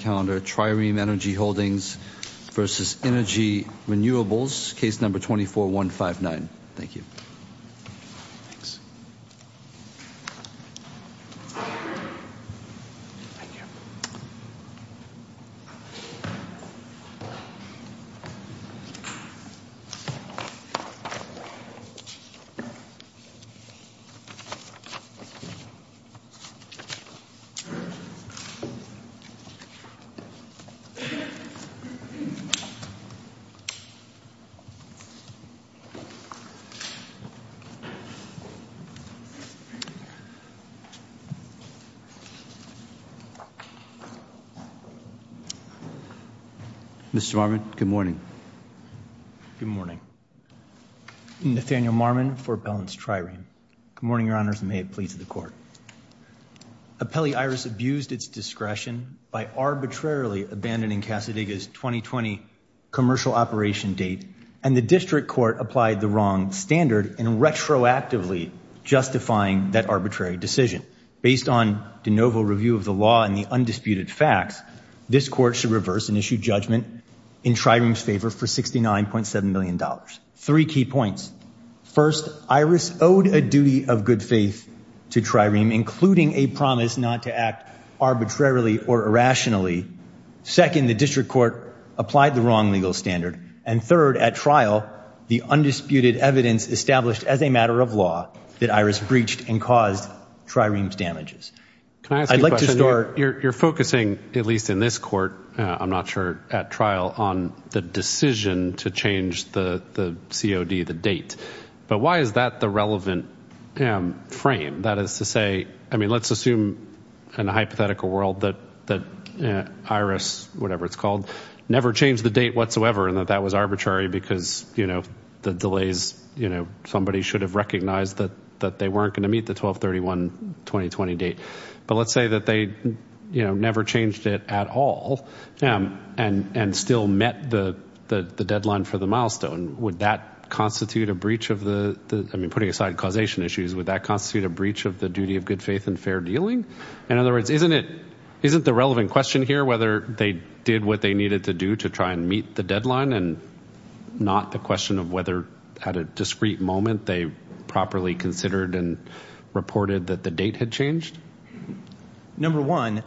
Trireme Energy Holdings, Inc. v. Innogy Renewables, Inc. Mr. Marmon, good morning. Good morning. Nathaniel Marmon for Appellants Trireme. Good morning, Your Honors, and may it please the Court. Appellee Iris abused its discretion by arbitrarily abandoning Casadiga's 2020 commercial operation date, and the District Court applied the wrong standard in retroactively justifying that arbitrary decision. Based on de novo review of the law and the undisputed facts, this Court should reverse and issue judgment in Trireme's favor for $69.7 million. Three key points. First, Iris owed a duty of good faith to Trireme, including a promise not to act arbitrarily or irrationally. Second, the District Court applied the wrong legal standard. And third, at trial, the undisputed evidence established as a matter of law that Iris breached and caused Trireme's damages. Can I ask you a question? I'd like to start... You're focusing, at least in this Court, I'm not sure, at trial, on the decision to change the COD, the date. But why is that the relevant frame? That is to say, I mean, let's assume, in a hypothetical world, that Iris, whatever it's called, never changed the date whatsoever and that that was arbitrary because, you know, the delays, somebody should have recognized that they weren't going to meet the 12-31-2020 date. But let's say that they never changed it at all and still met the deadline for the milestone. Would that constitute a breach of the... I mean, putting aside causation issues, would that constitute a breach of the duty of good faith and fair dealing? In other words, isn't the relevant question here whether they did what they needed to do to try and meet the deadline and not the question of whether, at a discreet moment, they properly considered and reported that the date had changed? Number one,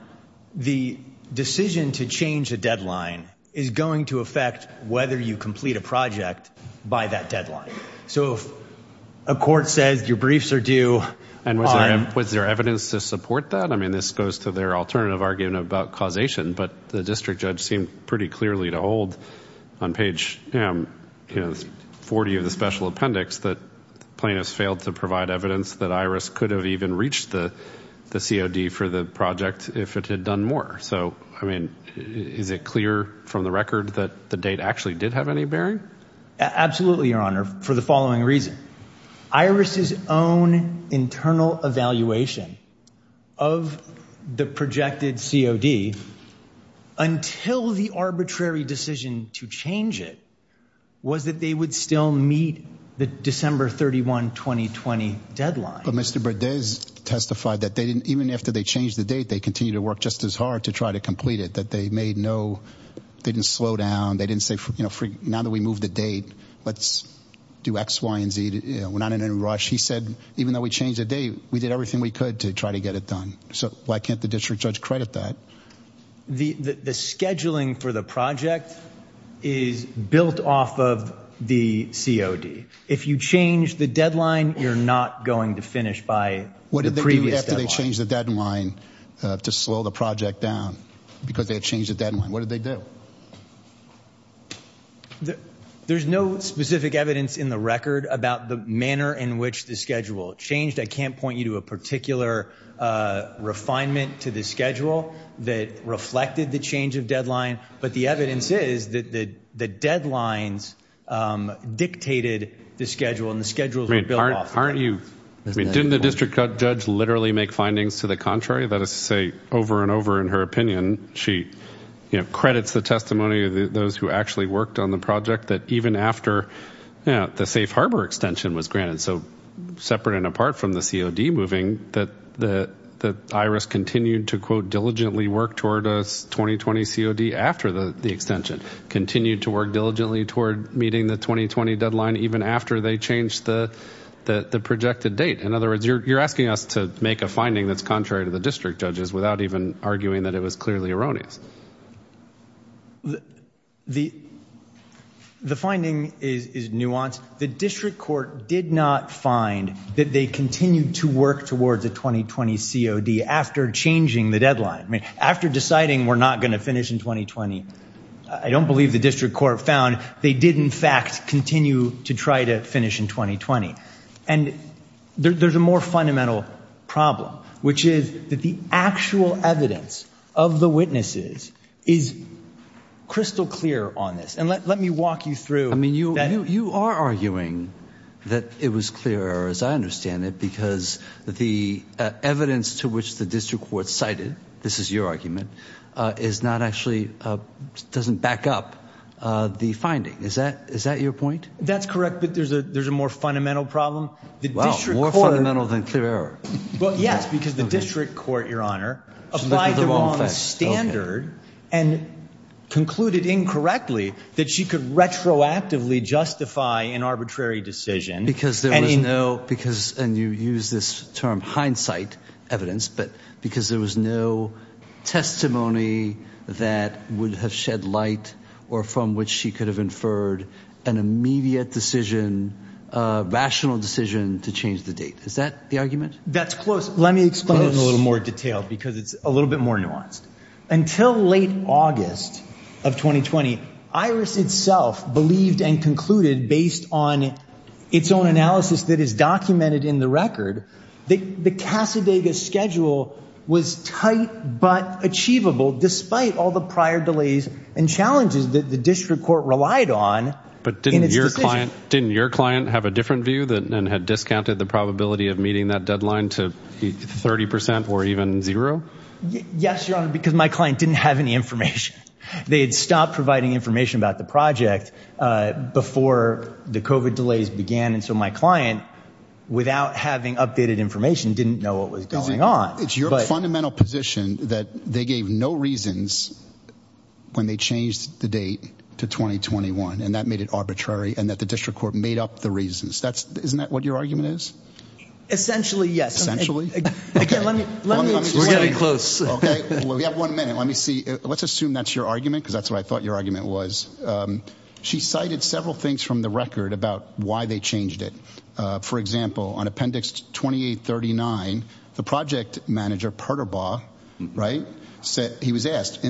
the decision to change a deadline is going to affect whether you complete a project by that deadline. So if a court says your briefs are due on... And was there evidence to support that? I mean, this goes to their alternative argument about causation, but the district judge seemed pretty clearly to hold on page 40 of the special appendix that plaintiffs failed to provide evidence that IRIS could have even reached the COD for the project if it had done more. So, I mean, is it clear from the record that the date actually did have any bearing? Absolutely, Your Honour, for the following reason. IRIS's own internal evaluation of the projected COD, until the arbitrary decision to change it, was that they would still meet the December 31, 2020 deadline. But Mr. Berdez testified that even after they changed the date, they continued to work just as hard to try to complete it, that they made no... They didn't slow down. They didn't say, you know, now that we moved the date, let's do X, Y, and Z. We're not in any rush. He said, even though we changed the date, we did everything we could to try to get it done. So why can't the district judge credit that? The scheduling for the project is built off of the COD. If you change the deadline, you're not going to finish by the previous deadline. What did they do after they changed the deadline to slow the project down? Because they had changed the deadline. What did they do? There's no specific evidence in the record about the manner in which the schedule changed. I can't point you to a particular refinement to the schedule that reflected the change of deadline, but the evidence is that the deadlines dictated the schedule and the schedules were built off of that. Didn't the district judge literally make findings to the contrary? That is to say, over and over in her opinion, she credits the testimony of those who actually worked on the project that even after the Safe Harbor extension was granted, so separate and apart from the COD moving, that IRIS continued to, quote, diligently work toward a 2020 COD after the extension, continued to work diligently toward meeting the 2020 deadline even after they changed the projected date. In other words, you're asking us to make a finding that's contrary to the district judge's without even arguing that it was clearly erroneous. The finding is nuanced. The district court did not find that they continued to work towards a 2020 COD after changing the deadline. After deciding we're not going to finish in 2020, I don't believe the district court found they did in fact continue to try to finish in 2020. And there's a more fundamental problem, which is that the actual evidence of the witnesses is crystal clear on this. And let me walk you through. I mean, you are arguing that it was clear, as I understand it, because the evidence to which the district court cited, this is your argument, is not actually, doesn't back up the finding. Is that your point? That's correct, but there's a more fundamental problem. Wow, more fundamental than clear error. Well, yes, because the district court, Your Honor, applied the wrong standard and concluded incorrectly that she could retroactively justify an arbitrary decision. Because there was no, because, and you use this term hindsight evidence, but because there was no testimony that would have shed light or from which she could have inferred an immediate decision, rational decision to change the date. Is that the argument? That's close. Let me explain it in a little more detail because it's a little bit more nuanced. Until late August of 2020, Iris itself believed and concluded, based on its own analysis that is documented in the record, that the Casadega schedule was tight but achievable, despite all the prior delays and challenges that the district court relied on in its decision. But didn't your client have a different view and had discounted the probability of meeting that deadline to 30% or even zero? Yes, Your Honor, because my client didn't have any information. They had stopped providing information about the project before the COVID delays began, and so my client, without having updated information, didn't know what was going on. It's your fundamental position that they gave no reasons when they changed the date to 2021, and that made it arbitrary and that the district court made up the reasons. Isn't that what your argument is? Essentially, yes. We're getting close. We have one minute. Let's assume that's your argument, because that's what I thought your argument was. She cited several things from the record about why they changed it. For example, on Appendix 2839, the project manager, Perterbaugh, he was asked,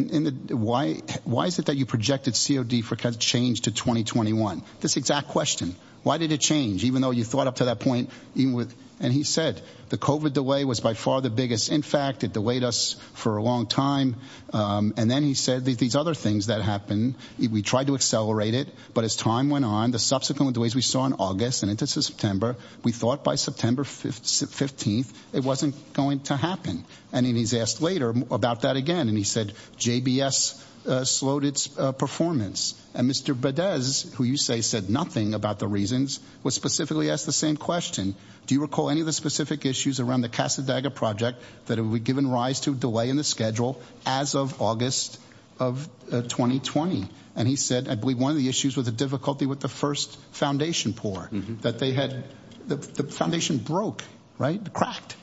why is it that you projected COD change to 2021? This exact question. Why did it change, even though you thought up to that point? And he said, the COVID delay was by far the biggest. In fact, it delayed us for a long time. And then he said, these other things that happened, we tried to accelerate it, but as time went on, the subsequent delays we saw in August and into September, we thought by September 15th, it wasn't going to happen. And then he's asked later about that again, and he said, JBS slowed its performance. And Mr. Badez, who you say said nothing about the reasons, was specifically asked the same question. Do you recall any of the specific issues around the Casa Daga project that it would be given rise to delay in the schedule as of August of 2020? And he said, I believe one of the issues was the difficulty with the first foundation pour, that they had, the foundation broke, right? Cracked.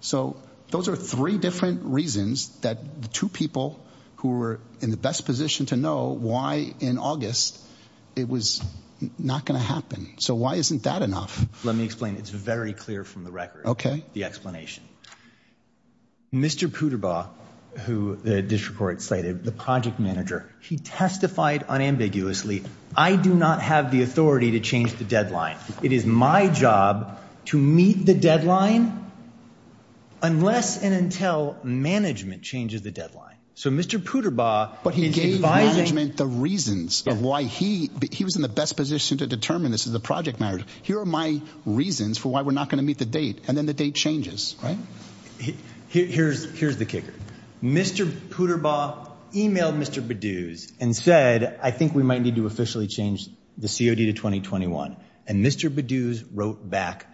So those are three different reasons that the two people who were in the best position to know why in August it was not going to happen. So why isn't that enough? Let me explain. It's very clear from the record. The explanation. Mr. Puderbaugh, who the district court slated, the project manager, he testified unambiguously, I do not have the authority to change the deadline. It is my job to meet the deadline unless and until management changes the deadline. So Mr. Puderbaugh... But he gave management the reasons of why he, he was in the best position to determine this is the project manager. Here are my reasons for why we're not going to meet the date. And then the date changes, right? Here's the kicker. Mr. Puderbaugh emailed Mr. Bedouz and said, I think we might need to officially change the COD to 2021. And Mr. Bedouz wrote back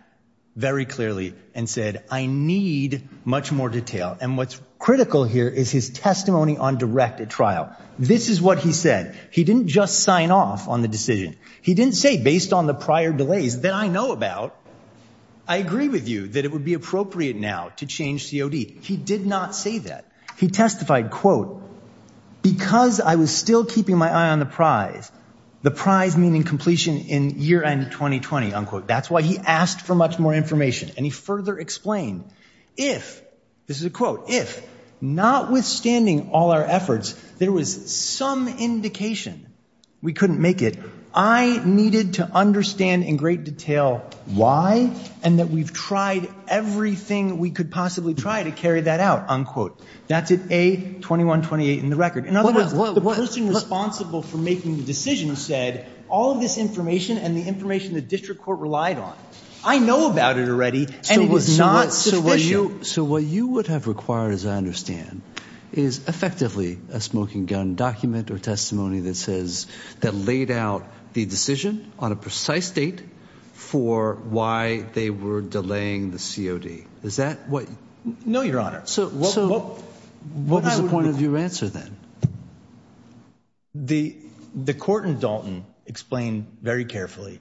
very clearly and said, I need much more detail. And what's critical here is his testimony on direct at trial. This is what he said. He didn't just sign off on the decision. He didn't say based on the prior delays that I know about, I agree with you that it would be appropriate now to change COD. He did not say that. He testified, quote, because I was still keeping my eye on the prize, the prize meaning completion in year end 2020, unquote. That's why he asked for much more information. And he further explained if this is a quote, if not withstanding all our efforts, there was some indication we couldn't make it. I needed to understand in great detail why, and that we've tried everything we could possibly try to carry that out. Unquote. That's it a 2128 in the record. In other words, the person responsible for making the decision said all of this information and the information that district court relied on, I know about it already, and it was not sufficient. So what you would have required, as I understand, is effectively a smoking gun document or testimony that says that laid out the decision on a precise date for why they were delaying the COD. Is that what? No, Your Honor. So what was the point of your answer? Then the, the court in Dalton explained very carefully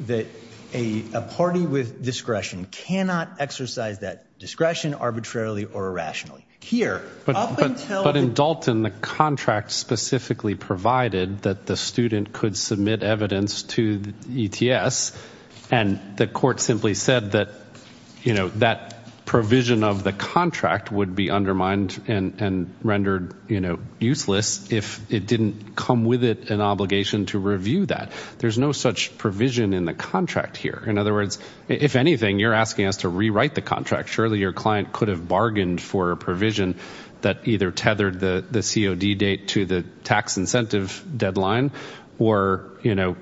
that a, a party with discretion cannot exercise that discretion arbitrarily or irrationally here. But in Dalton, the contract specifically provided that the student could submit evidence to ETS. And the court simply said that, you know, that provision of the contract would be undermined and rendered, you know, useless if it didn't come with it, an obligation to review that there's no such provision in the contract here. In other words, if anything, you're asking us to rewrite the contract. Surely your client could have bargained for a provision that either tethered the COD date to the tax incentive deadline, or, you know,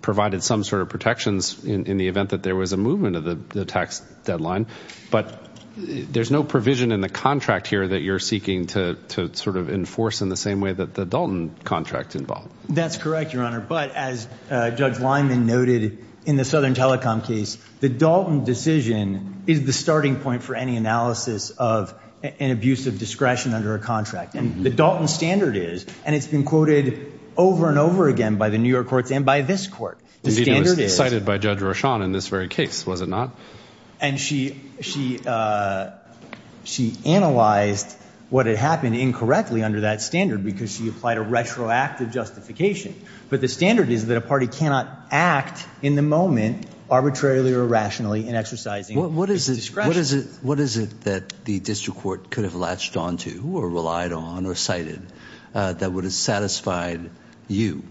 provided some sort of protections in, in the event that there was a movement of the tax deadline, but there's no provision in the contract here that you're seeking to, to sort of enforce in the same way that the Dalton contract involved. That's correct, Your Honor. But as a judge Lyman noted in the Southern telecom case, the Dalton decision is the starting point for any analysis of an abusive discretion under a contract. And the Dalton standard is, and it's been quoted over and over again by the New York courts and by this court. The standard is cited by judge Roshan in this very case, was it not? And she, she, she analyzed what had happened incorrectly under that standard because she applied a retroactive justification. But the standard is that a party cannot act in the moment, arbitrarily or rationally in exercising discretion. what is it, what is it that the district court could have latched onto or relied on or cited that would have satisfied you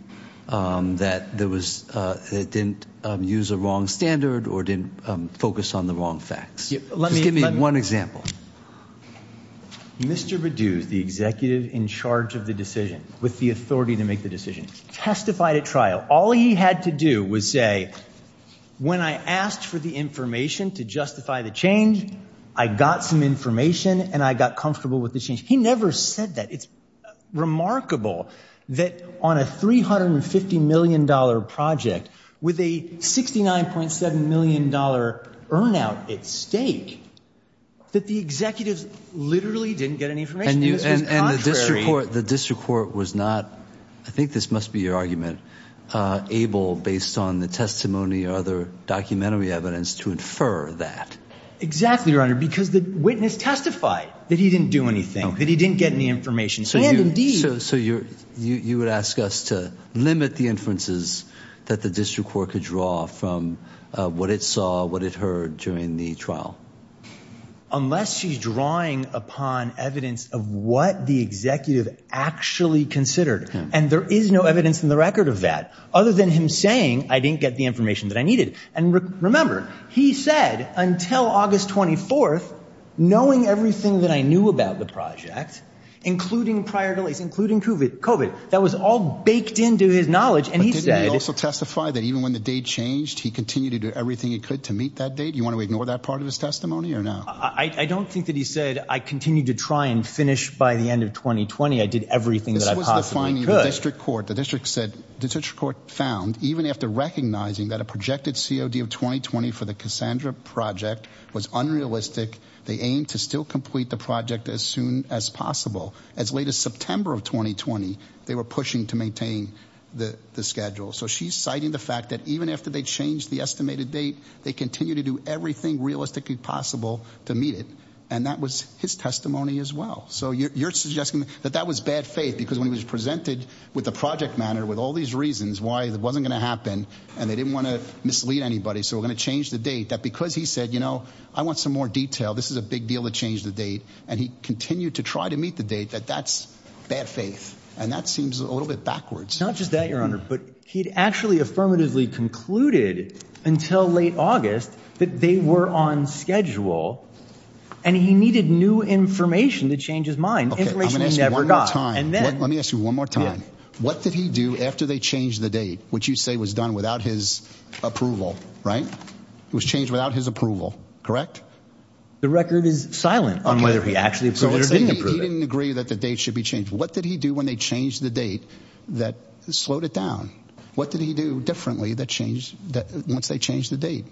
that there was a, that didn't use a wrong standard or didn't focus on the wrong facts. Just give me one example. Mr. Biddu is the executive in charge of the decision with the authority to make the decision testified at trial. All he had to do was say, when I asked for the information to justify the change, I got some information and I got comfortable with the change. He never said that it's remarkable that on a $350 million project with a $69.7 million earn out at stake, that the executives literally didn't get any information. The district court was not, I think this must be your argument, able based on the testimony or other documentary evidence to infer that exactly. Your honor, because the witness testified that he didn't do anything that he didn't get any information. So you, so you're, you would ask us to limit the inferences that the district court could draw from what it saw, what it heard during the trial, unless she's drawing upon evidence of what the executive actually considered. And there is no evidence in the record of that other than him saying, I didn't get the information that I needed. And remember, he said until August 24th, knowing everything that I knew about the project, including prior delays, including COVID COVID that was all baked into his knowledge. And he said, also testify that even when the date changed, he continued to do everything he could to meet that date. You want to ignore that part of his testimony or not? I don't think that he said, I continue to try and finish by the end of 2020. I did everything that I possibly could. District court, the district said district court found, even after recognizing that a projected COD of 2020 for the Cassandra project was unrealistic. They aim to still complete the project as soon as possible. As late as September of 2020, they were pushing to maintain the schedule. So she's citing the fact that even after they changed the estimated date, they continue to do everything realistically possible to meet it. And that was his testimony as well. So you're, you're suggesting that that was bad faith because when he was presented with the project matter, with all these reasons why it wasn't going to happen and they didn't want to mislead anybody. So we're going to change the date that, because he said, you know, I want some more detail. This is a big deal to change the date. And he continued to try to meet the date that that's bad faith. And that seems a little bit backwards. Not just that your honor, But he'd actually affirmatively concluded until late August that they were on schedule and he needed new information to change his mind. Information he never got. And then let me ask you one more time. What did he do after they changed the date, which you say was done without his approval, right? It was changed without his approval. Correct. The record is silent on whether he actually approved it or didn't approve it. He didn't agree that the date should be changed. What did he do when they changed the date that slowed it down? What did he do differently? That changed that once they changed the date,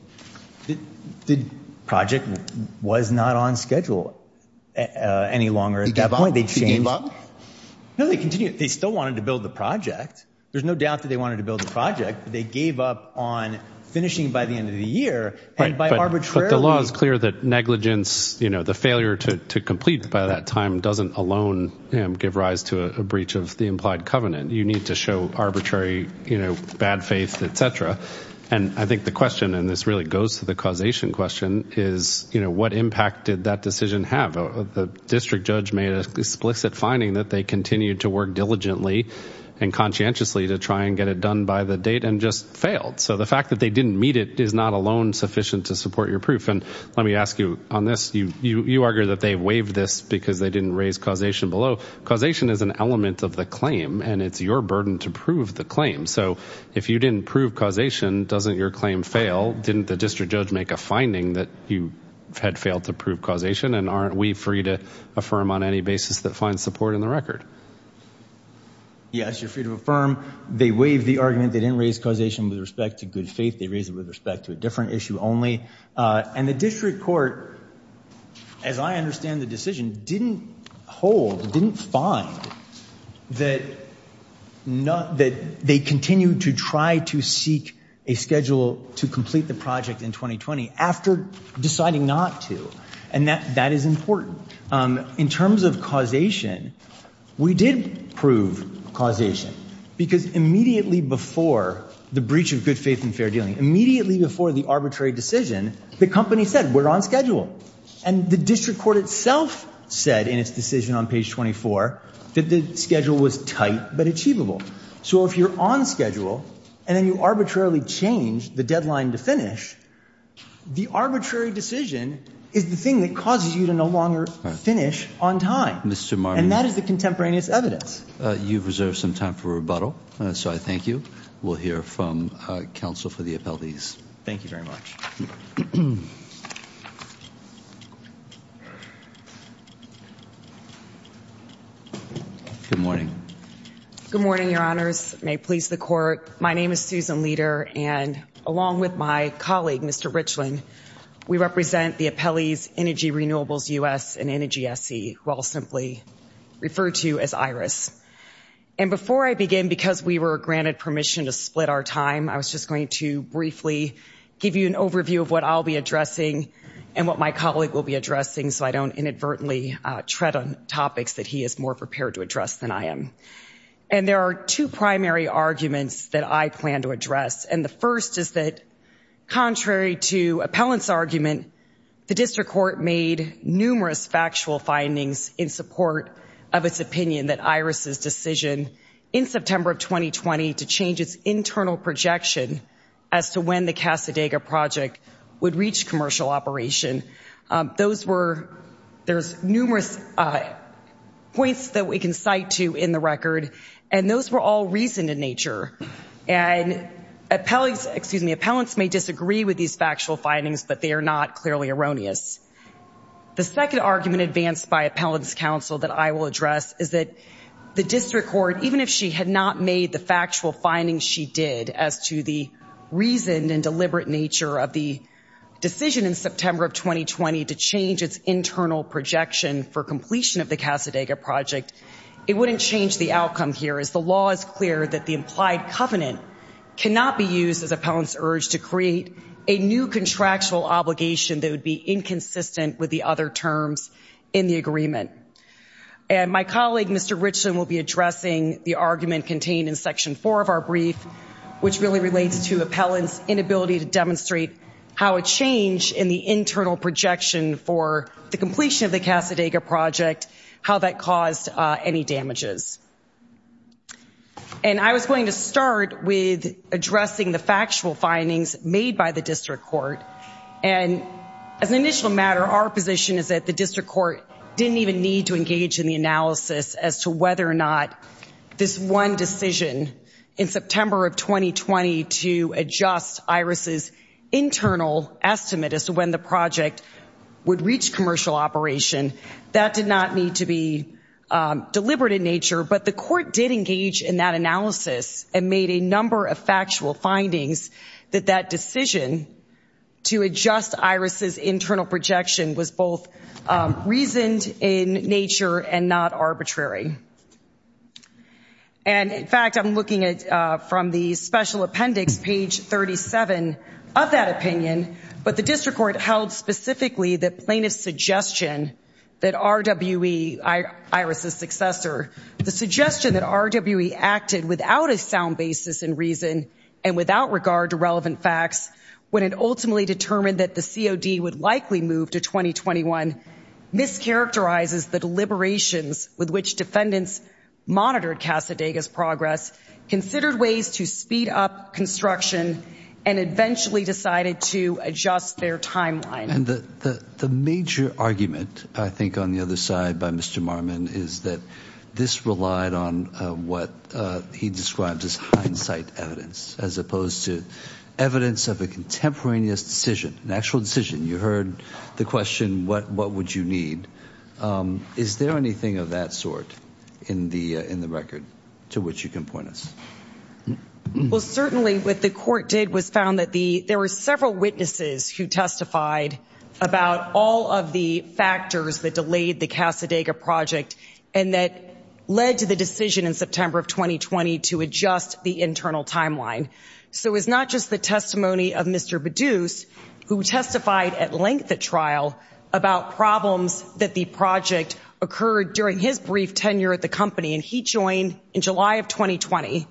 the project was not on schedule any longer at that point. They changed. No, they continue. They still wanted to build the project. There's no doubt that they wanted to build the project, but they gave up on finishing by the end of the year. And by arbitrary, the law is clear that negligence, you know, the failure to complete by that time doesn't alone give rise to a breach of the implied covenant. You need to show arbitrary, you know, bad faith, et cetera. And I think the question, and this really goes to the causation question is, you know, what impact did that decision have? The district judge made a explicit finding that they continued to work diligently and conscientiously to try and get it done by the date and just failed. So the fact that they didn't meet it is not alone sufficient to support your proof. And let me ask you on this, you, you, you argue that they waived this because they didn't raise causation below. Causation is an element of the claim and it's your burden to prove the claim. So if you didn't prove causation, doesn't your claim fail? Didn't the district judge make a finding that you had failed to prove causation? And aren't we free to affirm on any basis that find support in the record? Yes, you're free to affirm. They waived the argument. They didn't raise causation with respect to good faith. They raised it with respect to a different issue only. And the district court, as I understand the decision, didn't hold, didn't find that not, that they continue to try to seek a schedule to complete the project in 2020 after deciding not to. And that, that is important in terms of causation. We did prove causation because immediately before the breach of good faith and fair dealing immediately before the arbitrary decision, the company said we're on schedule. And the district court itself said in its decision on page 24, that the schedule was tight, but achievable. So if you're on schedule and then you arbitrarily change the deadline to the arbitrary decision is the thing that causes you to no longer finish on time. And that is the contemporaneous evidence. You've reserved some time for rebuttal. So I thank you. We'll hear from counsel for the appellees. Thank you very much. Good morning. Good morning. Your honors may please the court. My name is Susan leader. And along with my colleague, Mr. Richland, we represent the appellees, energy renewables, U S and energy SC. Well, simply referred to as Iris. And before I begin, because we were granted permission to split our time, I was just going to briefly give you an overview of what's going on. I'm going to give you a brief review of what I'll be addressing and what my colleague will be addressing. So I don't inadvertently tread on topics that he is more prepared to address than I am. And there are two primary arguments that I plan to address. And the first is that contrary to appellants argument, the district court made numerous factual findings in support of its opinion, that Iris's decision in September of 2020 to change its internal projection as to when the Casa Dega project would reach commercial operation. Those were, there's numerous points that we can cite to in the record. And those were all reason in nature and appellants, excuse me, appellants may disagree with these factual findings, but they are not clearly erroneous. The second argument advanced by appellants council that I will address is that the district court, even if she had not made the factual findings, she did as to the reason and deliberate nature of the decision in September of 2020 to change its internal projection for completion of the Casa Dega project. It wouldn't change the outcome here is the law is clear that the implied covenant cannot be used as a pound's urge to create a new contractual obligation. That would be inconsistent with the other terms in the agreement. And my colleague, Mr. Richland will be addressing the argument contained in section four of our brief, which really relates to appellants inability to demonstrate how a change in the internal projection for the completion of the Casa Dega project, how that caused any damages. And I was going to start with addressing the factual findings made by the district court. And as an initial matter, our position is that the district court didn't even need to engage in the analysis as to whether or not this one decision in September of 2020 to adjust Iris's internal estimate as to when the project would reach commercial operation that did not need to be deliberate in nature, but the court did engage in that analysis and made a number of factual statements. And the internal projection was both reasoned in nature and not arbitrary. And in fact, I'm looking at from the special appendix, page 37 of that opinion, but the district court held specifically that plaintiff's suggestion that RWE, Iris's successor, the suggestion that RWE acted without a sound basis in reason and without regard to relevant facts. When it ultimately determined that the COD would likely move to 2021 mischaracterizes, the deliberations with which defendants monitored Casa Degas progress, considered ways to speed up construction and eventually decided to adjust their timeline. And the, the, the major argument, I think, on the other side by Mr. Marmon is that this relied on what he describes as hindsight evidence, as opposed to evidence of a contemporaneous decision, an actual decision. You heard the question, what, what would you need? Is there anything of that sort in the, in the record to which you can point us? Well, certainly what the court did was found that the, there were several witnesses who testified about all of the factors that delayed the Casa Degas project. And that led to the decision in September of 2020 to adjust the internal timeline. So it was not just the testimony of Mr. Baduce who testified at length at trial about problems that the project occurred during his brief tenure at the company. And he joined in July of 2020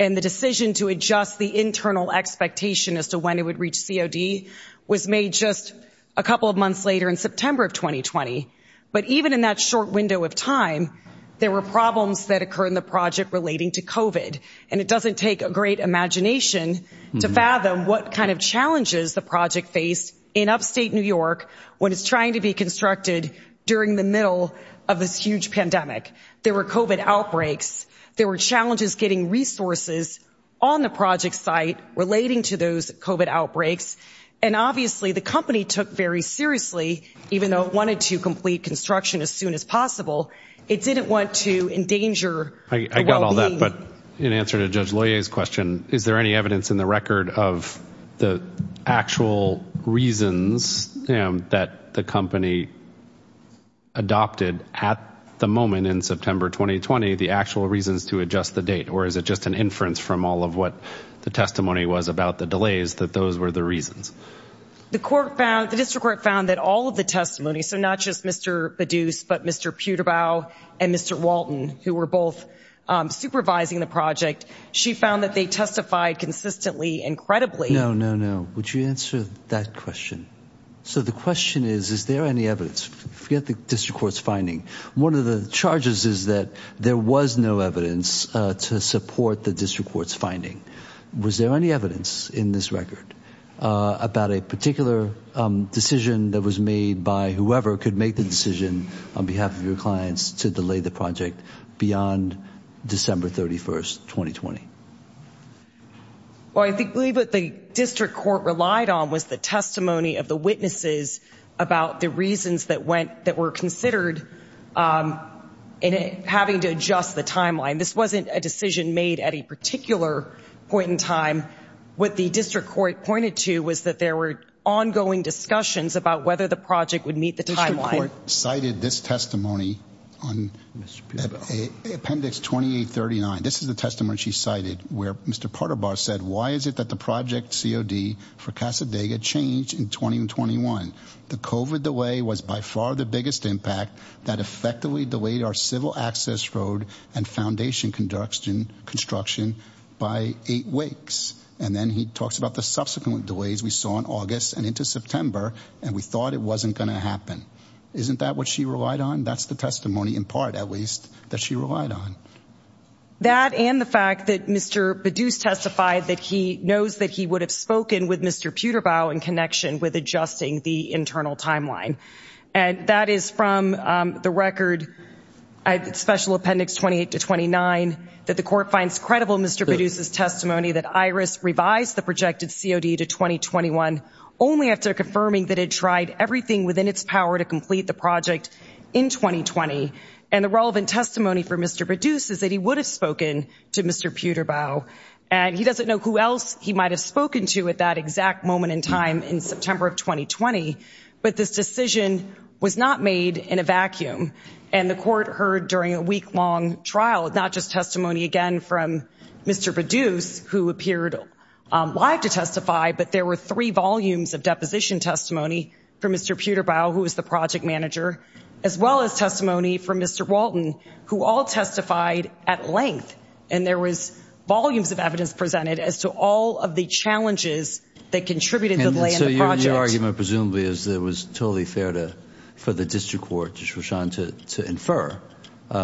and the decision to adjust the internal expectation as to when it would reach COD was made just a couple of months later in September of 2020. But even in that short window of time, there were problems that occur in the project relating to COVID and it doesn't take a great imagination to fathom what kind of challenges the project faced in upstate New York, when it's trying to be constructed during the middle of this huge pandemic, there were COVID outbreaks, there were challenges getting resources on the project site relating to those COVID outbreaks. And obviously the company took very seriously, even though it wanted to complete construction as soon as possible, it didn't want to endanger. I got all that. But in answer to judge lawyer's question, is there any evidence in the record of the actual reasons that the company adopted at the moment in September, 2020, the actual reasons to adjust the date, or is it just an inference from all of what the testimony was about the delays that those were the reasons. The court found the district court found that all of the testimony. So not just Mr. But Mr. And Mr. Who were both supervising the project. She found that they testified consistently incredibly. No, no, no. Would you answer that question? So the question is, is there any evidence? Forget the district court's finding. One of the charges is that there was no evidence to support the district court's finding. Was there any evidence in this record about a particular decision that was made by whoever could make the decision on behalf of your clients to delay the project beyond December 31st, 2020. Well, I think believe that the district court relied on was the testimony of the witnesses about the reasons that went, that were considered in having to adjust the timeline. This wasn't a decision made at a particular point in time. What the district court pointed to was that there were ongoing discussions about whether the project would meet the timeline cited this testimony on Mr. Appendix 2839. This is the testimony she cited where Mr. Porter bar said, why is it that the project COD for Casa Dega changed in 2021? The COVID the way was by far the biggest impact that effectively delayed our civil access road and foundation conduction construction by eight weeks. And then he talks about the subsequent delays we saw in August and into September. And we thought it wasn't going to happen. Isn't that what she relied on? That's the testimony in part, at least that she relied on that. And the fact that Mr. Badoos testified that he knows that he would have spoken with Mr. Peter bow in connection with adjusting the internal timeline. And that is from the record. I special appendix 28 to 29 that the court finds credible. And the fact that Mr. Badoos is testimony that Iris revised the projected COD to 2021. Only after confirming that it tried everything within its power to complete the project in 2020. And the relevant testimony for Mr. Badoos is that he would have spoken to Mr. Peter bow. And he doesn't know who else he might've spoken to at that exact moment in time in September of 2020. But this decision was not made in a vacuum. And the court heard during a week long trial, not just testimony again from Mr. Badoos who appeared live to testify, but there were three volumes of deposition testimony for Mr. Peter bow, who was the project manager. As well as testimony from Mr. Walton, who all testified at length. And there was volumes of evidence presented as to all of the challenges that contributed to the land. So your argument presumably is there was totally fair to, for the district court, To infer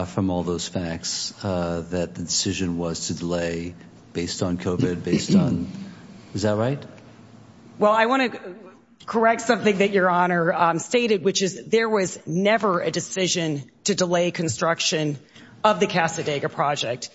from all those facts that the decision was to delay based on COVID based on. Is that right? Well, I want to correct something that your honor stated, which is there was never a decision to delay construction of the Casadega project.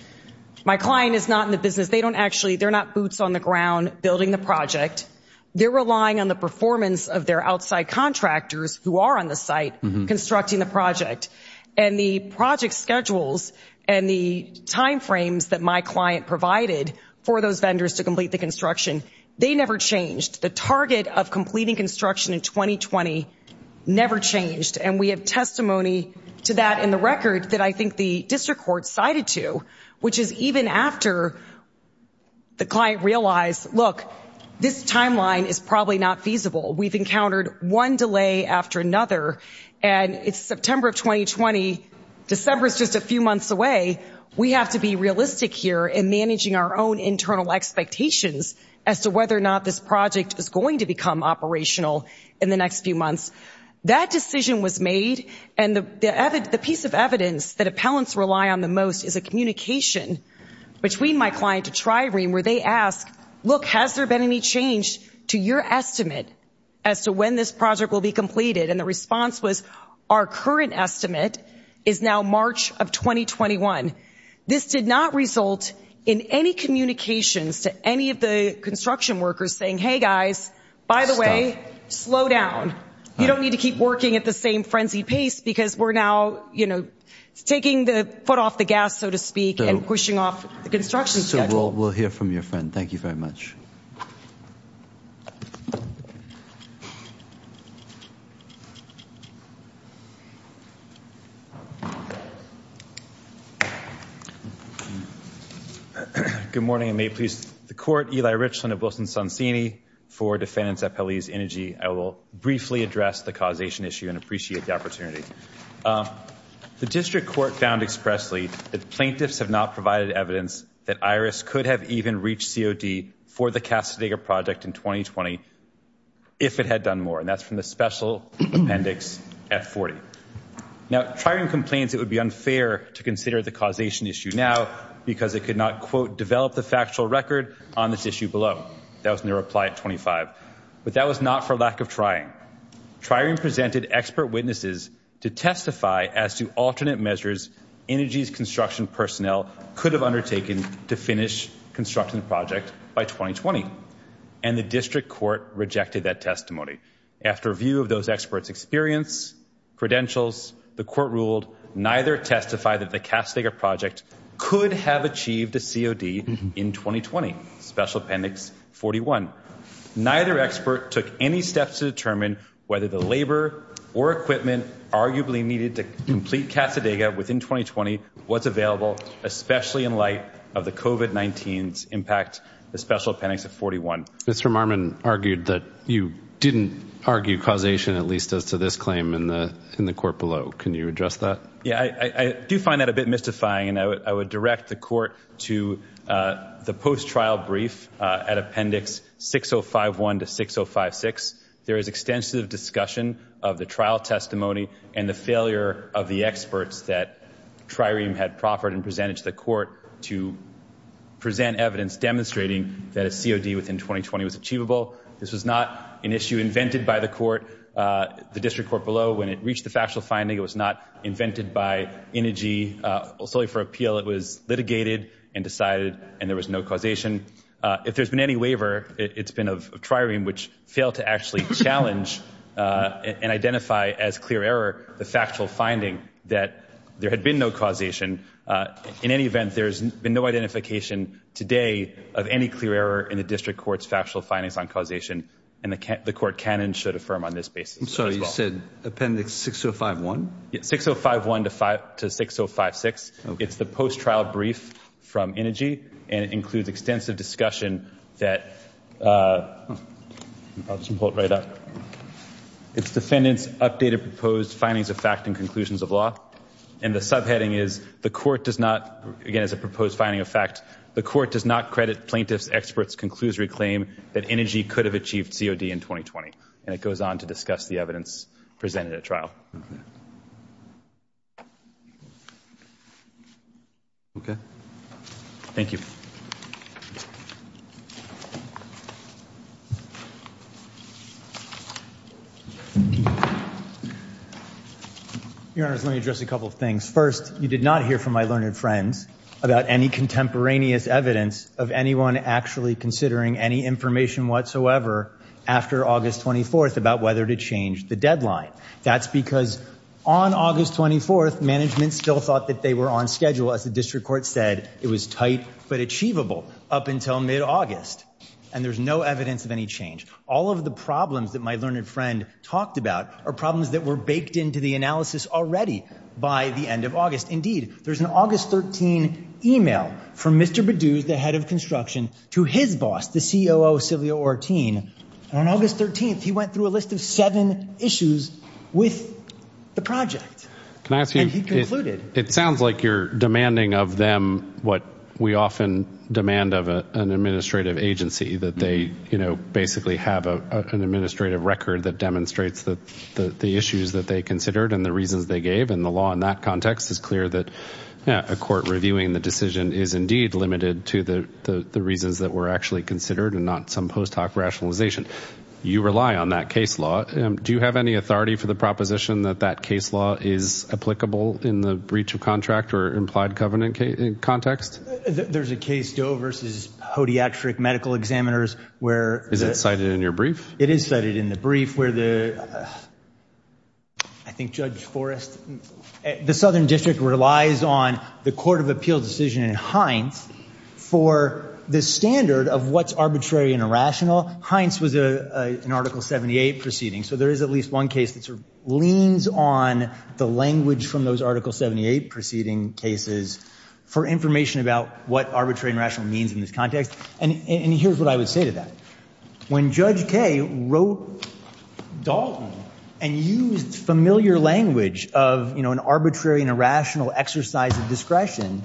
My client is not in the business. They don't actually, they're not boots on the ground, building the project. They're relying on the performance of their outside contractors who are on the site constructing the project and the project schedules and the timeframes that my client provided for those vendors to complete the construction. They never changed the target of completing construction in 2020. Never changed. And we have testimony to that in the record that I think the district court cited to, which is even after. The client realized, look, this timeline is probably not feasible. We've encountered one delay after another and it's September of 2020. December is just a few months away. We have to be realistic here in managing our own internal expectations as to whether or not this project is going to become operational in the next few months. That decision was made. And the evidence, the piece of evidence that appellants rely on the most is a communication. Between my client to try green, where they ask, look, has there been any change to your estimate as to when this project will be completed? And the response was our current estimate is now March of 2021. This did not result in any communications to any of the construction workers saying, Hey guys, by the way, slow down. You don't need to keep working at the same frenzy pace because we're now, you know, Taking the foot off the gas, so to speak and pushing off the construction. We'll, we'll hear from your friend. Thank you very much. Good morning. May please the court Eli Richland of Wilson, Sonsini for defendants at police energy. I will briefly address the causation issue and appreciate the opportunity. The district court found expressly that the plaintiffs have not provided evidence that Iris could have even reached COD for the cast. They got project in 2020. If it had done more and that's from the special appendix at 40. Now try and complains. It would be unfair to consider the causation issue now, because it could not quote develop the factual record on this issue below. That was in the reply at 25, but that was not for lack of trying. Try and presented expert witnesses to testify as to alternate measures. Energy's construction personnel could have undertaken to finish constructing the project by 2020. And the district court rejected that testimony. After view of those experts experience. Credentials. The court ruled, neither testify that the casting of project could have achieved a COD in 2020 special appendix 41. Neither expert took any steps to determine whether the labor or equipment arguably needed to complete Casa Dega within 2020. What's available, especially in light of the COVID-19 impact, the special appendix at 41. Marmon argued that you didn't argue causation, at least as to this claim in the, in the court below. Can you address that? Yeah, I do find that a bit mystifying and I would, I would direct the court to the post trial brief at appendix 6051 to 6056. There is extensive discussion of the trial testimony and the failure of the experts that trireme had proffered and presented to the court to present evidence, demonstrating that a COD within 2020 was achievable. This was not an issue invented by the court. The district court below, when it reached the factual finding, it was not invented by energy solely for appeal. It was litigated and decided, and there was no causation. If there's been any waiver, it's been of trireme, which failed to actually challenge and identify as clear error. The factual finding that there had been no causation in any event, there's been no identification today of any clear error in the district courts, factual findings on causation and the CA the court cannon should affirm on this basis. So you said appendix 6051, 6051 to five to 6056. It's the post trial brief from energy and it includes extensive discussion that I'll just pull it right up. It's defendants updated, proposed findings of fact and conclusions of law. And the subheading is the court does not, again, as a proposed finding of fact, the court does not credit plaintiffs experts concludes reclaim that energy could have achieved COD in 2020. And it goes on to discuss the evidence presented at trial. Okay. Thank you. Thank you. Let me address a couple of things. First, you did not hear from my learned friends about any contemporaneous evidence of anyone actually considering any information whatsoever after August 24th about whether to change the deadline. That's because on August 24th management still thought that they were on schedule. As the district court said it was tight, but achievable up until mid August. And there's no evidence of any change. All of the problems that my learned friend talked about are problems that were baked into the analysis already by the end of August. Indeed, there's an August 13 email from Mr. Badooz, the head of construction to his boss, the CEO, Sylvia or teen. And on August 13th, he went through a list of seven issues with the project. Can I ask you, it sounds like you're demanding of them. What we often demand of an administrative agency that they, you know, basically have a, an administrative record that demonstrates that the, the issues that they considered and the reasons they gave and the law in that context is clear that a court reviewing the decision is indeed limited to the, the reasons that were actually considered and not some post hoc rationalization. You rely on that case law. Do you have any authority for the proposition that that case law is applicable in the breach of contract or implied covenant case in context? There's a case Doe versus hodiatric medical examiners where is it cited in your brief? It is cited in the brief where the, I think judge forest, the Southern district relies on the court of appeal decision in Heinz for the standard of what's arbitrary and irrational. Heinz was a, a, an article 78 proceeding. So there is at least one case that sort of leans on the language from those article 78 proceeding cases for information about what arbitrary and rational means in this context. And here's what I would say to that. When judge K wrote Dalton and used familiar language of, you know, an arbitrary and irrational exercise of discretion,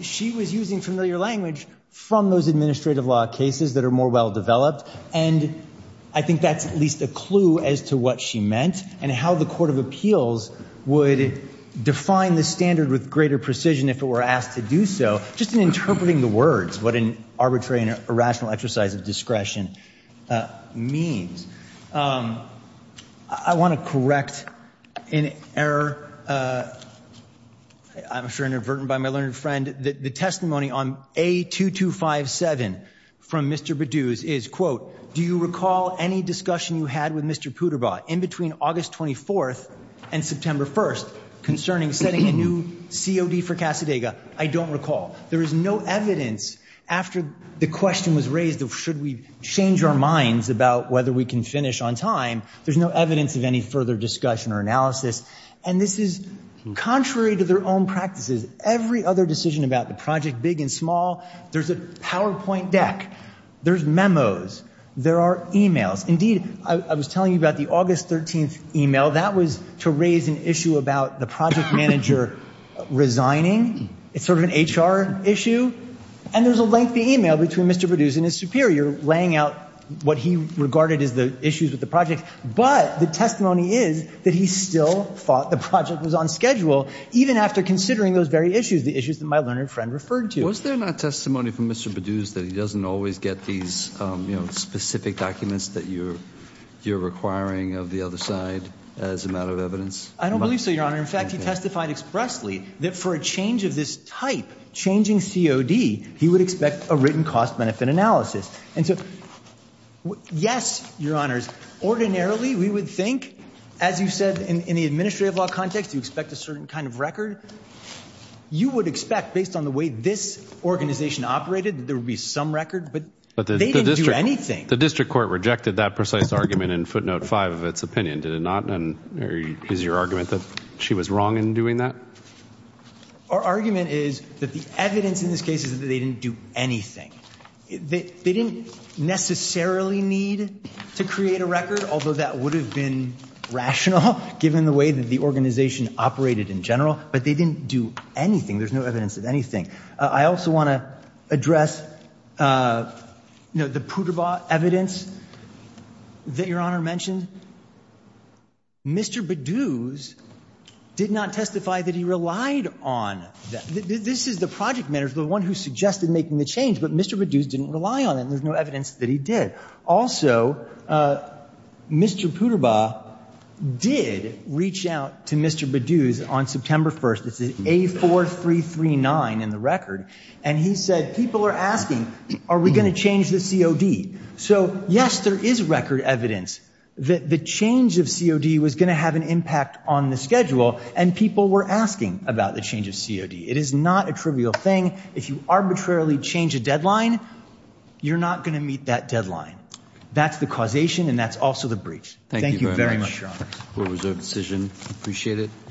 she was using familiar language from those administrative law cases that are more well developed. And I think that's at least a clue as to what she meant and how the court of appeals would define the standard with greater precision. If it were asked to do so just in interpreting the words, what an arbitrary and irrational exercise of discretion means. I want to correct an error. I'm sure inadvertent by my learned friend, the testimony on a 2257 from Mr. Badooz is quote, do you recall any discussion you had with Mr. Puderbaugh in between August 24th and September 1st concerning setting a new COD for Casadega? I don't recall. There is no evidence after the question was raised of should we change our minds about whether we can finish on time? There's no evidence of any further discussion or analysis. And this is contrary to their own practices. Every other decision about the project, big and small, there's a PowerPoint deck, there's memos, there are emails. Indeed, I was telling you about the August 13th email that was to raise an issue about the project manager resigning. It's sort of an HR issue and there's a lengthy email between Mr. Badooz and his superior laying out what he regarded as the issues with the project. But the testimony is that he still thought the project was on schedule even after considering those very issues, the issues that my learned friend referred to. Was there not testimony from Mr. Badooz that he doesn't always get these specific documents that you're requiring of the other side as a matter of evidence? I don't believe so, Your Honor. In fact, he testified expressly that for a change of this type, changing COD, he would expect a written cost benefit analysis. And so, yes, Your Honors, ordinarily we would think, as you said, in the administrative law context, you expect a certain kind of record. You would expect, based on the way this organization operated, that there would be some record, but they didn't do anything. The district court rejected that precise argument in footnote five of its opinion, did it not? And is your argument that she was wrong in doing that? Our argument is that the evidence in this case is that they didn't do anything. They didn't necessarily need to create a record, although that would have been rational given the way that the organization operated in general. But they didn't do anything. There's no evidence of anything. I also want to address, you know, the Puderbaugh evidence that Your Honor mentioned. Mr. Bedouz did not testify that he relied on that. This is the project manager, the one who suggested making the change, but Mr. Bedouz didn't rely on it, and there's no evidence that he did. Also, Mr. Puderbaugh did reach out to Mr. Bedouz, on September 1st, this is A4339 in the record, and he said, people are asking, are we going to change the COD? So, yes, there is record evidence that the change of COD was going to have an impact on the schedule, and people were asking about the change of COD. It is not a trivial thing. If you arbitrarily change a deadline, you're not going to meet that deadline. That's the causation, and that's also the breach. Thank you very much, Your Honor. Court is adjourned. We'll reserve decision. Appreciate it.